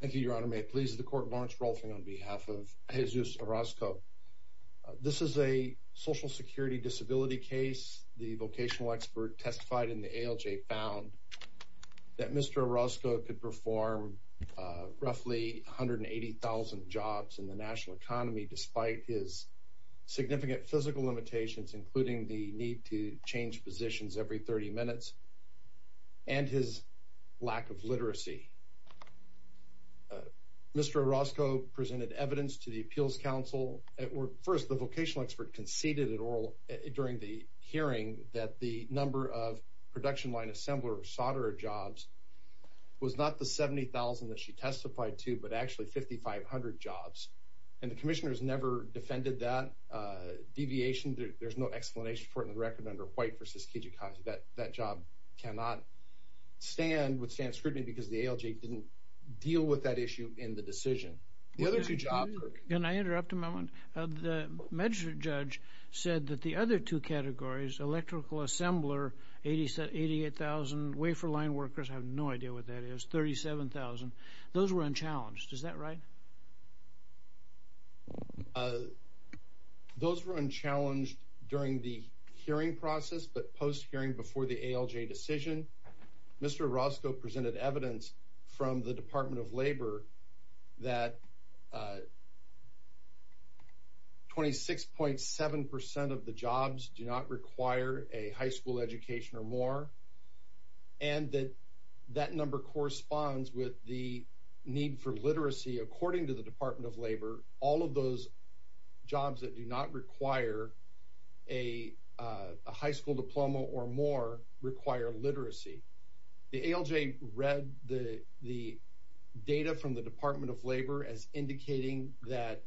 Thank you, Your Honor. May it please the Court, Lawrence Rolfing on behalf of Jesus Orozco. This is a social security disability case. The vocational expert testified in the ALJ found that Mr. Orozco could perform roughly 180,000 jobs in the national economy despite his significant physical limitations, including the need to change positions every 30 minutes, and his lack of literacy. Mr. Orozco presented evidence to the Appeals Council at work. First, the vocational expert conceded during the hearing that the number of production line assembler or solderer jobs was not the 70,000 that she testified to, but actually 5,500 jobs, and the Commissioner has never defended that deviation. There's no explanation for it in the record under White v. Kijakazi. That job cannot stand, would stand scrutiny because the ALJ didn't deal with that issue in the decision. The other two jobs... Can I interrupt a moment? The magistrate judge said that the other two categories, electrical assembler, 88,000, wafer line workers, I have no idea what that is, 37,000, those were unchallenged, is that right? Those were unchallenged during the hearing process, but post-hearing before the ALJ decision, Mr. Orozco presented evidence from the Department of Labor that 26.7% of the jobs do not require a high school education or more, and that that number corresponds with the need for literacy. According to the Department of Labor, all of those jobs that do not require a high school diploma or more require literacy. The ALJ read the data from the Department of Labor as indicating that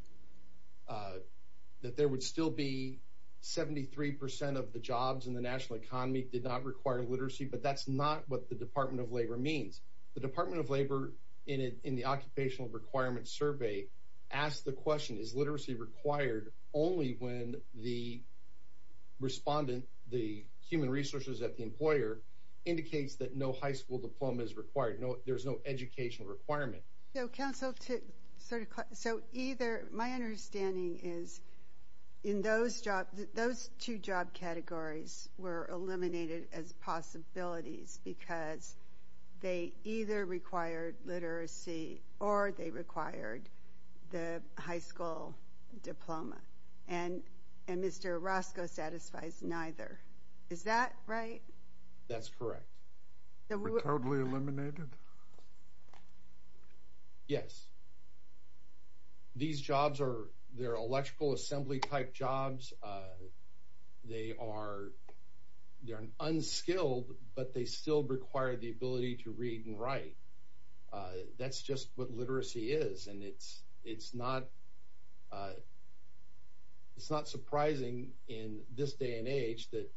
there would still be 73% of the jobs in the national economy did not require literacy, but that's not what the Department of Labor means. The Department of Labor, in the Occupational Requirements Survey, asked the question, is literacy required only when the respondent, the human resources at the employer, indicates that no high school diploma is required, there's no educational requirement? So either, my understanding is, in those jobs, those two job categories were eliminated as possibilities because they either required literacy or they required the high school diploma, and Mr. Orozco satisfies neither. Is that right? That's correct. They were totally eliminated? Yes. These jobs are electrical assembly type jobs. They are unskilled, but they still require the ability to read and write. That's just what literacy is, and it's not surprising in this day and age that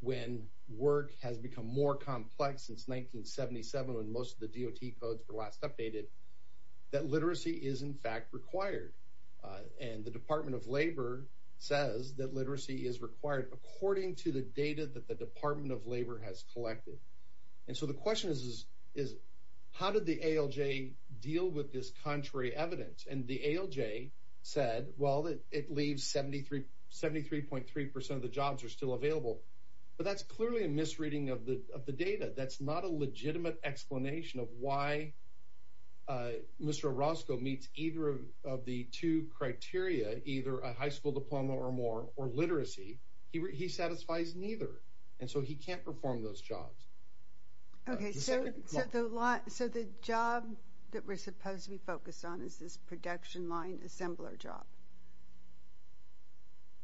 when work has become more complex since 1977 when most of the DOT codes were last updated, that literacy is in fact required, and the Department of Labor says that literacy is required according to the data that the Department of Labor has collected. And so the question is, how did the ALJ deal with this contrary evidence? And the ALJ said, well, it leaves 73.3% of the jobs are still available, but that's clearly a misreading of the data. That's not a legitimate explanation of why Mr. Orozco meets either of the two criteria, either a high school diploma or more, or literacy. He satisfies neither, and so he can't perform those jobs. Okay, so the job that we're supposed to be focused on is this production line assembler job?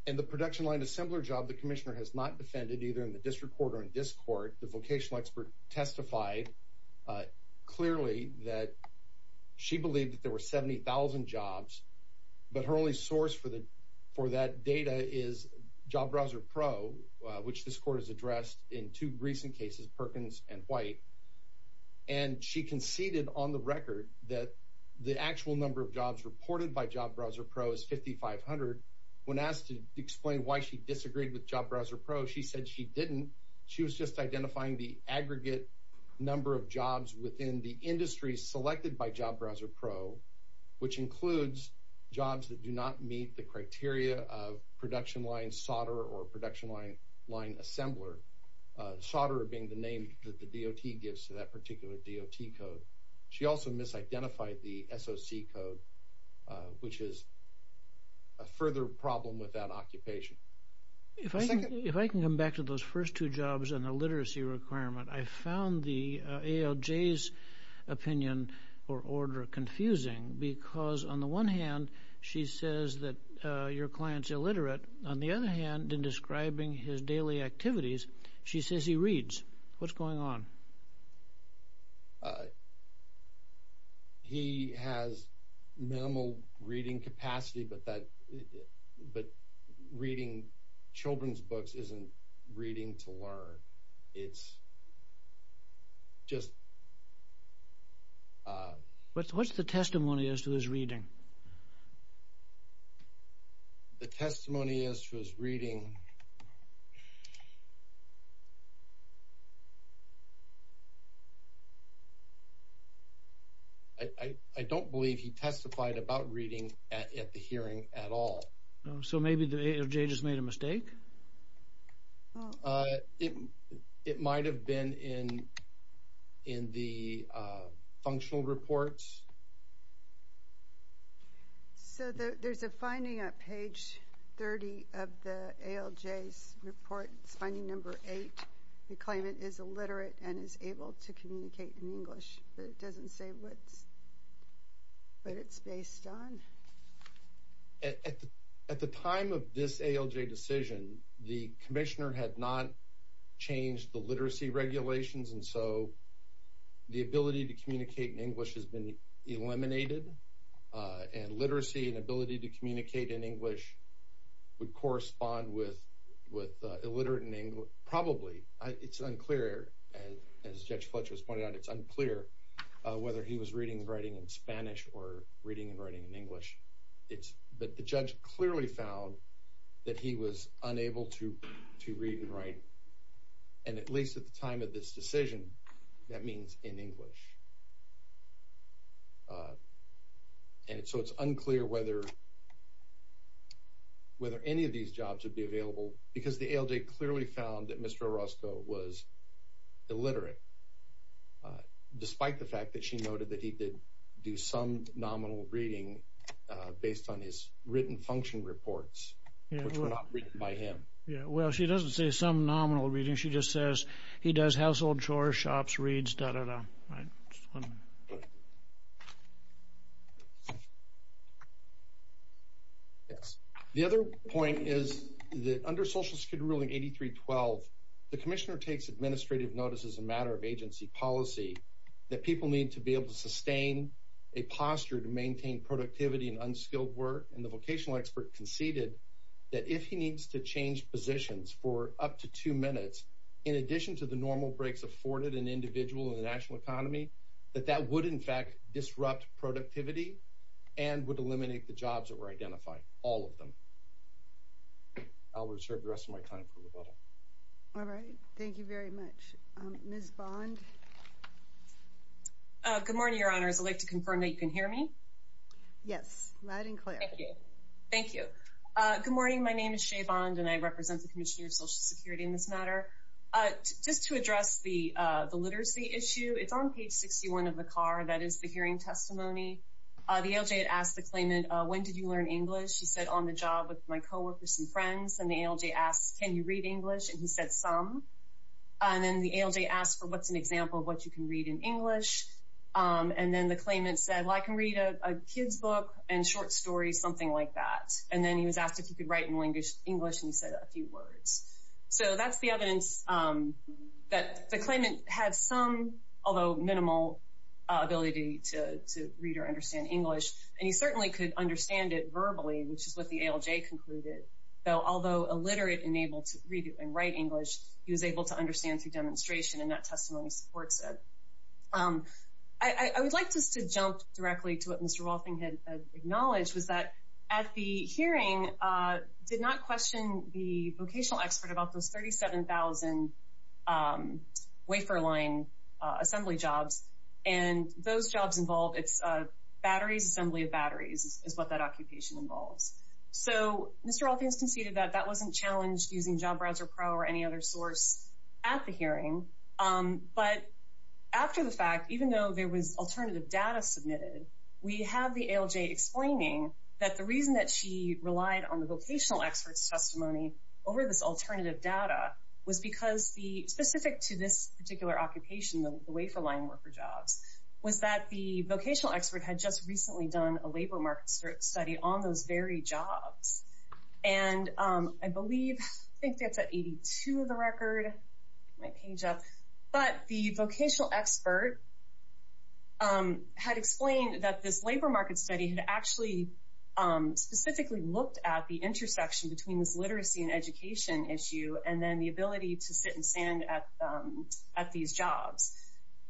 In the production line assembler job, the commissioner has not defended either in the district court or in this court. The vocational expert testified clearly that she believed that there were 70,000 jobs, but her only source for that data is Job Browser Pro, which this court has addressed in two recent cases, Perkins and White. And she conceded on the record that the actual number of jobs reported by Job Browser Pro is 5,500. When asked to explain why she disagreed with Job Browser Pro, she said she didn't. She was just identifying the aggregate number of jobs within the industry selected by Job Browser Pro, which includes jobs that do not meet the criteria of production line solder or production line assembler. Solder being the name that the DOT gives to that particular DOT code. She also misidentified the SOC code, which is a further problem with that occupation. If I can come back to those first two jobs and the literacy requirement, I found the ALJ's opinion or order confusing because, on the one hand, she says that your client's illiterate. On the other hand, in describing his daily activities, she says he reads. What's going on? He has minimal reading capacity, but reading children's books isn't reading to learn. It's just... What's the testimony as to his reading? The testimony as to his reading... I don't believe he testified about reading at the hearing at all. So maybe the ALJ just made a mistake? It might have been in the functional reports. So there's a finding at page 30 of the ALJ's report. It's finding number eight. They claim it is illiterate and is able to communicate in English, but it doesn't say what it's based on. At the time of this ALJ decision, the commissioner had not changed the literacy regulations, and so the ability to communicate in English has been eliminated, and literacy and ability to communicate in English would correspond with illiterate in English. Probably. It's unclear. As Judge Fletcher has pointed out, it's unclear whether he was reading and writing in Spanish or reading and writing in English. But the judge clearly found that he was unable to read and write, and at least at the time of this decision, that means in English. And so it's unclear whether any of these jobs would be available, because the ALJ clearly found that Mr. Orozco was illiterate, despite the fact that she noted that he did do some nominal reading based on his written function reports, which were not written by him. Yeah, well, she doesn't say some nominal reading. She just says he does household chores, shops, reads, da-da-da. Yes. The other point is that under Social Security Ruling 83-12, the commissioner takes administrative notice as a matter of agency policy that people need to be able to sustain a posture to maintain productivity and unskilled work, and the vocational expert conceded that if he needs to change positions for up to two minutes, in addition to the normal breaks afforded an individual in the national economy, that that would in fact disrupt productivity and would eliminate the jobs that were identified, all of them. I'll reserve the rest of my time for rebuttal. All right. Thank you very much. Ms. Bond? Good morning, Your Honors. I'd like to confirm that you can hear me? Yes, loud and clear. Thank you. Thank you. Good morning. My name is Shea Bond, and I represent the Commissioner of Social Security in this matter. Just to address the literacy issue, it's on page 61 of the CAR. That is the hearing testimony. The ALJ had asked the claimant, when did you learn English? He said, on the job with my coworkers and friends. And the ALJ asked, can you read English? And he said, some. And then the ALJ asked for what's an example of what you can read in English? And then the claimant said, well, I can read a kid's book and short stories, something like that. And then he was asked if he could write in English, and he said a few words. So that's the evidence that the claimant had some, although minimal, ability to read or understand English. And he certainly could understand it verbally, which is what the ALJ concluded. Though, although illiterate and able to read and write English, he was able to understand through demonstration, and that testimony supports it. I would like just to jump directly to what Mr. Wolfing had acknowledged, was that at the hearing, did not question the vocational expert about those 37,000 wafer line assembly jobs. And those jobs involved batteries, assembly of batteries, is what that occupation involves. So Mr. Wolfing has conceded that that wasn't challenged using Job Browser Pro or any other source at the hearing. But after the fact, even though there was alternative data submitted, we have the ALJ explaining that the reason that she relied on the vocational expert's testimony over this alternative data was because the specific to this particular occupation, the wafer line worker jobs, was that the vocational expert had just recently done a labor market study on those very jobs. And I believe, I think that's at 82 of the record, my page up. But the vocational expert had explained that this labor market study had actually specifically looked at the intersection between this literacy and education issue, and then the ability to sit and stand at these jobs.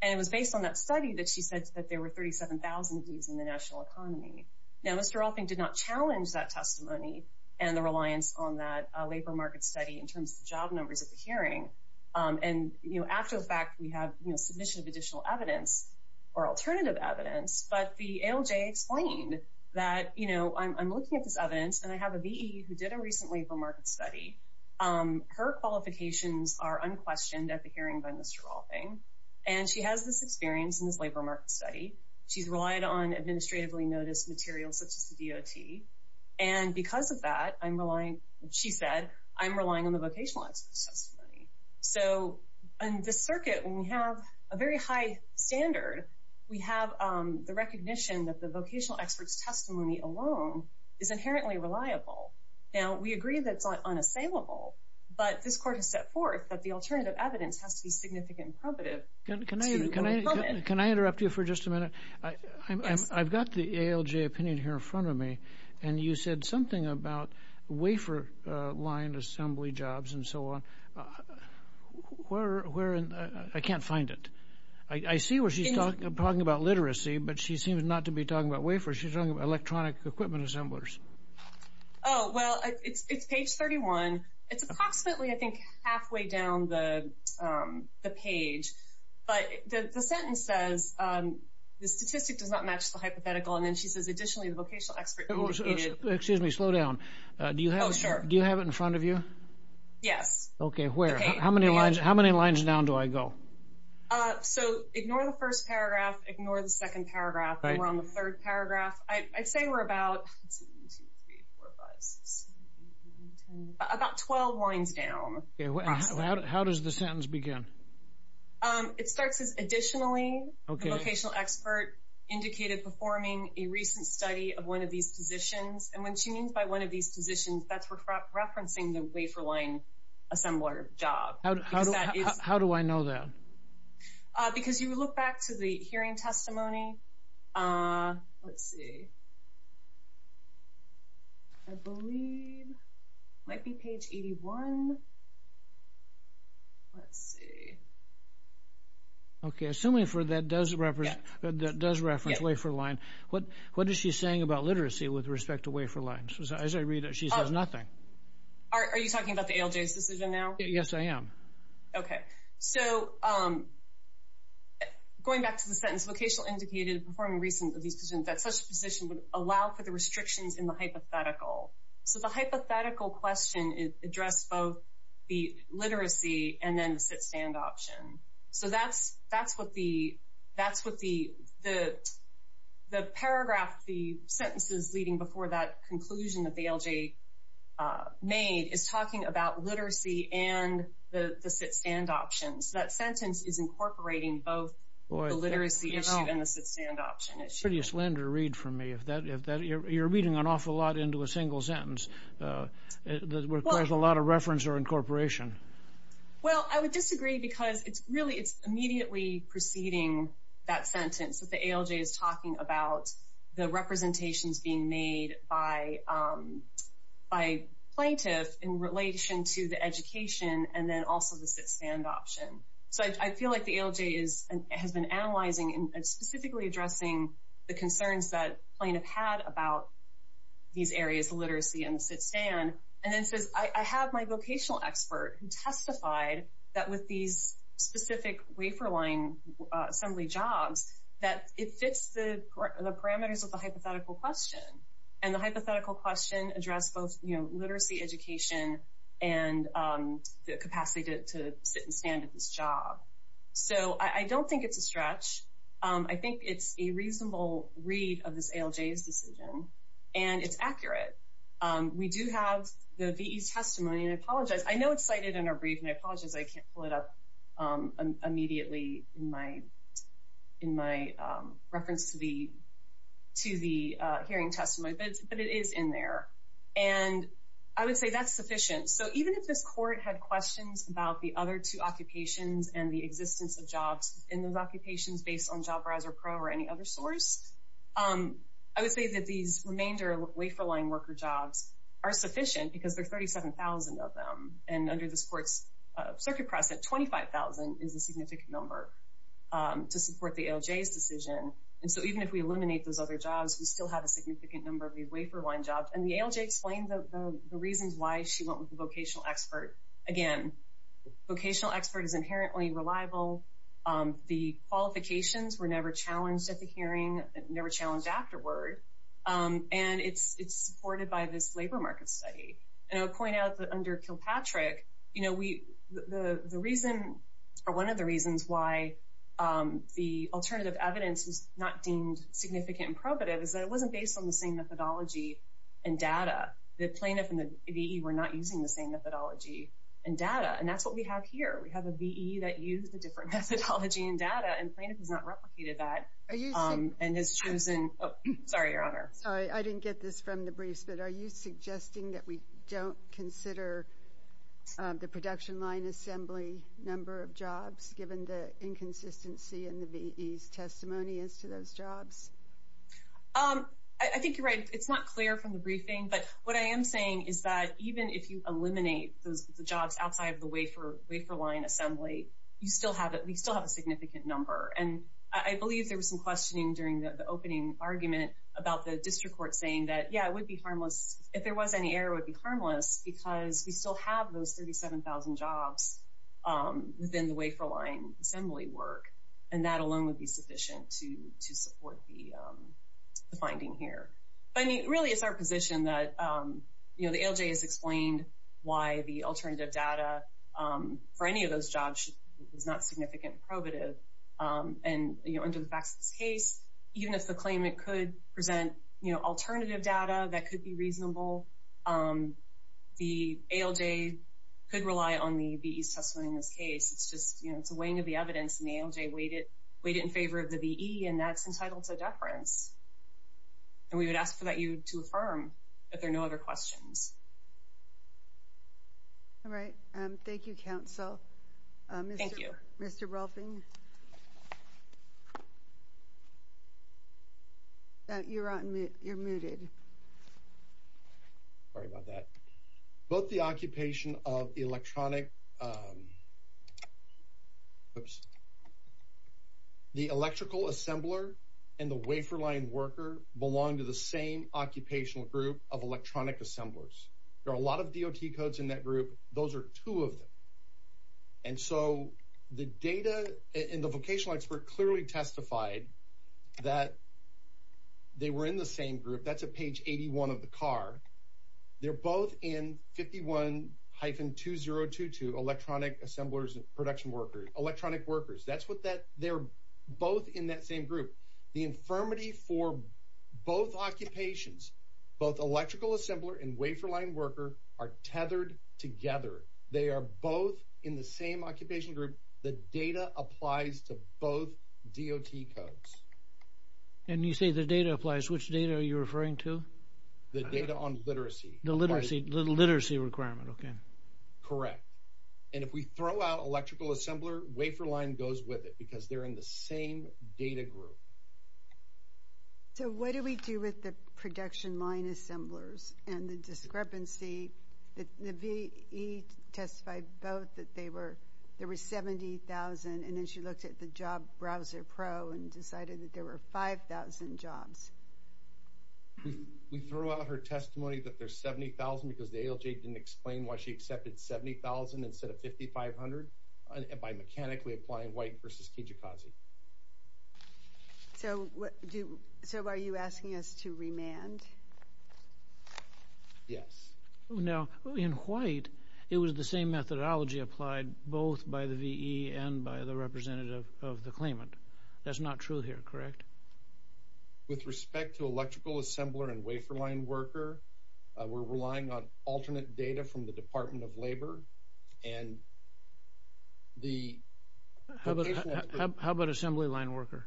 And it was based on that study that she said that there were 37,000 of these in the national economy. Now, Mr. Wolfing did not challenge that testimony and the reliance on that labor market study in terms of job numbers at the hearing. And, you know, after the fact, we have, you know, submission of additional evidence or alternative evidence. But the ALJ explained that, you know, I'm looking at this evidence and I have a VE who did a recent labor market study. Her qualifications are unquestioned at the hearing by Mr. Wolfing. And she has this experience in this labor market study. She's relied on administratively noticed materials such as the DOT. And because of that, I'm relying, she said, I'm relying on the vocational expert's testimony. So in this circuit, when we have a very high standard, we have the recognition that the vocational expert's testimony alone is inherently reliable. Now, we agree that it's unassailable, but this court has set forth that the alternative evidence has to be significant and probative to overcome it. Can I interrupt you for just a minute? Yes. I've got the ALJ opinion here in front of me, and you said something about wafer line assembly jobs and so on. Where, I can't find it. I see where she's talking about literacy, but she seems not to be talking about wafers. She's talking about electronic equipment assemblers. Oh, well, it's page 31. It's approximately, I think, halfway down the page. But the sentence says, the statistic does not match the hypothetical. And then she says, additionally, the vocational expert indicated. Excuse me. Slow down. Do you have it in front of you? Yes. Okay, where? How many lines down do I go? So ignore the first paragraph. Ignore the second paragraph. And we're on the third paragraph. I'd say we're about, let's see, one, two, three, four, five, six, seven, eight, nine, ten, about 12 lines down. How does the sentence begin? It starts with, additionally, the vocational expert indicated performing a recent study of one of these positions. And what she means by one of these positions, that's referencing the wafer line assembler job. How do I know that? Because you look back to the hearing testimony. Let's see. I believe it might be page 81. Let's see. Okay, assuming that does reference wafer line, what is she saying about literacy with respect to wafer lines? As I read it, she says nothing. Are you talking about the ALJ's decision now? Yes, I am. Okay. So going back to the sentence, vocational indicated performing recent of these positions, that such a position would allow for the restrictions in the hypothetical. So the hypothetical question addressed both the literacy and then the sit-stand option. So that's what the paragraph, the sentences leading before that conclusion that the ALJ made, is talking about literacy and the sit-stand options. That sentence is incorporating both the literacy issue and the sit-stand option issue. It's a pretty slender read for me. You're reading an awful lot into a single sentence. It requires a lot of reference or incorporation. Well, I would disagree because it's really immediately preceding that sentence that the ALJ is talking about the representations being made by plaintiff in relation to the education and then also the sit-stand option. So I feel like the ALJ has been analyzing and specifically addressing the concerns that plaintiff had about these areas, literacy and sit-stand, and then says, I have my vocational expert who testified that with these specific wafer-line assembly jobs that it fits the parameters of the hypothetical question, and the hypothetical question addressed both literacy, education, and the capacity to sit and stand at this job. So I don't think it's a stretch. I think it's a reasonable read of this ALJ's decision, and it's accurate. We do have the VE testimony, and I apologize. I know it's cited in our brief, and I apologize I can't pull it up immediately in my reference to the hearing testimony, but it is in there, and I would say that's sufficient. So even if this court had questions about the other two occupations and the existence of jobs in those occupations based on Job Browser Pro or any other source, I would say that these remainder wafer-line worker jobs are sufficient because there are 37,000 of them, and under this court's circuit process, 25,000 is a significant number to support the ALJ's decision. And so even if we eliminate those other jobs, we still have a significant number of these wafer-line jobs, and the ALJ explained the reasons why she went with the vocational expert. Again, vocational expert is inherently reliable. The qualifications were never challenged at the hearing, never challenged afterward, and it's supported by this labor market study. And I'll point out that under Kilpatrick, one of the reasons why the alternative evidence was not deemed significant and probative is that it wasn't based on the same methodology and data. The plaintiff and the VE were not using the same methodology and data, and that's what we have here. We have a VE that used a different methodology and data, and plaintiff has not replicated that and has chosen. Oh, sorry, Your Honor. Sorry, I didn't get this from the briefs, but are you suggesting that we don't consider the production line assembly number of jobs, given the inconsistency in the VE's testimony as to those jobs? I think you're right. It's not clear from the briefing, but what I am saying is that even if you eliminate the jobs outside of the wafer line assembly, we still have a significant number, and I believe there was some questioning during the opening argument about the district court saying that, yeah, it would be harmless if there was any error. It would be harmless because we still have those 37,000 jobs within the wafer line assembly work, and that alone would be sufficient to support the finding here. But, I mean, really it's our position that, you know, the ALJ has explained why the alternative data for any of those jobs is not significant and probative, and, you know, under the facts of this case, even if the claimant could present, you know, alternative data that could be reasonable, the ALJ could rely on the VE's testimony in this case. It's just, you know, it's a weighing of the evidence, and the ALJ weighed it in favor of the VE, and that's entitled to deference. And we would ask that you to affirm that there are no other questions. All right. Thank you, counsel. Thank you. Mr. Rolfing? You're on mute. You're muted. Sorry about that. Both the occupation of the electronic, oops, the electrical assembler and the wafer line worker belong to the same occupational group of electronic assemblers. There are a lot of DOT codes in that group. Those are two of them. And so the data and the vocational expert clearly testified that they were in the same group. That's at page 81 of the card. They're both in 51-2022, electronic assemblers and production workers, electronic workers. That's what that they're both in that same group. The infirmity for both occupations, both electrical assembler and wafer line worker are tethered together. They are both in the same occupation group. The data applies to both DOT codes. And you say the data applies. Which data are you referring to? The data on literacy. The literacy requirement, okay. Correct. And if we throw out electrical assembler, wafer line goes with it because they're in the same data group. So what do we do with the production line assemblers and the discrepancy that the VE testified both that there were 70,000 and then she looked at the job browser pro and decided that there were 5,000 jobs? We throw out her testimony that there's 70,000 because the ALJ didn't explain why she accepted 70,000 instead of 5,500 by mechanically applying white versus Kijikazi. So are you asking us to remand? Yes. Now, in white, it was the same methodology applied both by the VE and by the representative of the claimant. That's not true here, correct? With respect to electrical assembler and wafer line worker, we're relying on alternate data from the Department of Labor. How about assembly line worker?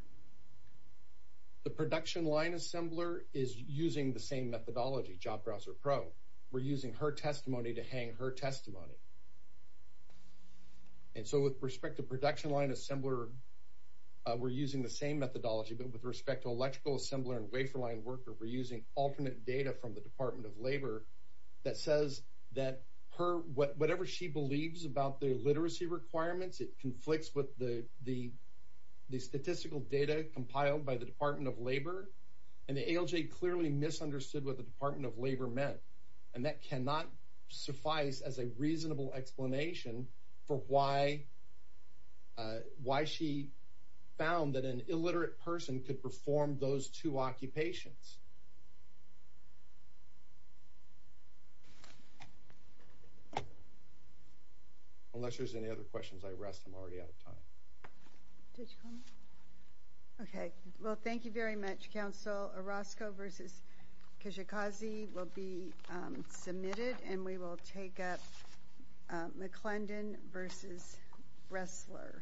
The production line assembler is using the same methodology, job browser pro. We're using her testimony to hang her testimony. And so with respect to production line assembler, we're using the same methodology, but with respect to electrical assembler and wafer line worker, we're using alternate data from the Department of Labor that says that whatever she believes about the literacy requirements, it conflicts with the statistical data compiled by the Department of Labor, and the ALJ clearly misunderstood what the Department of Labor meant. And that cannot suffice as a reasonable explanation for why she found that an illiterate person could perform those two occupations. Unless there's any other questions, I rest. I'm already out of time. Did you call me? Okay. Well, thank you very much, Counsel. Orozco v. Kishikazi will be submitted, and we will take up McClendon v. Ressler.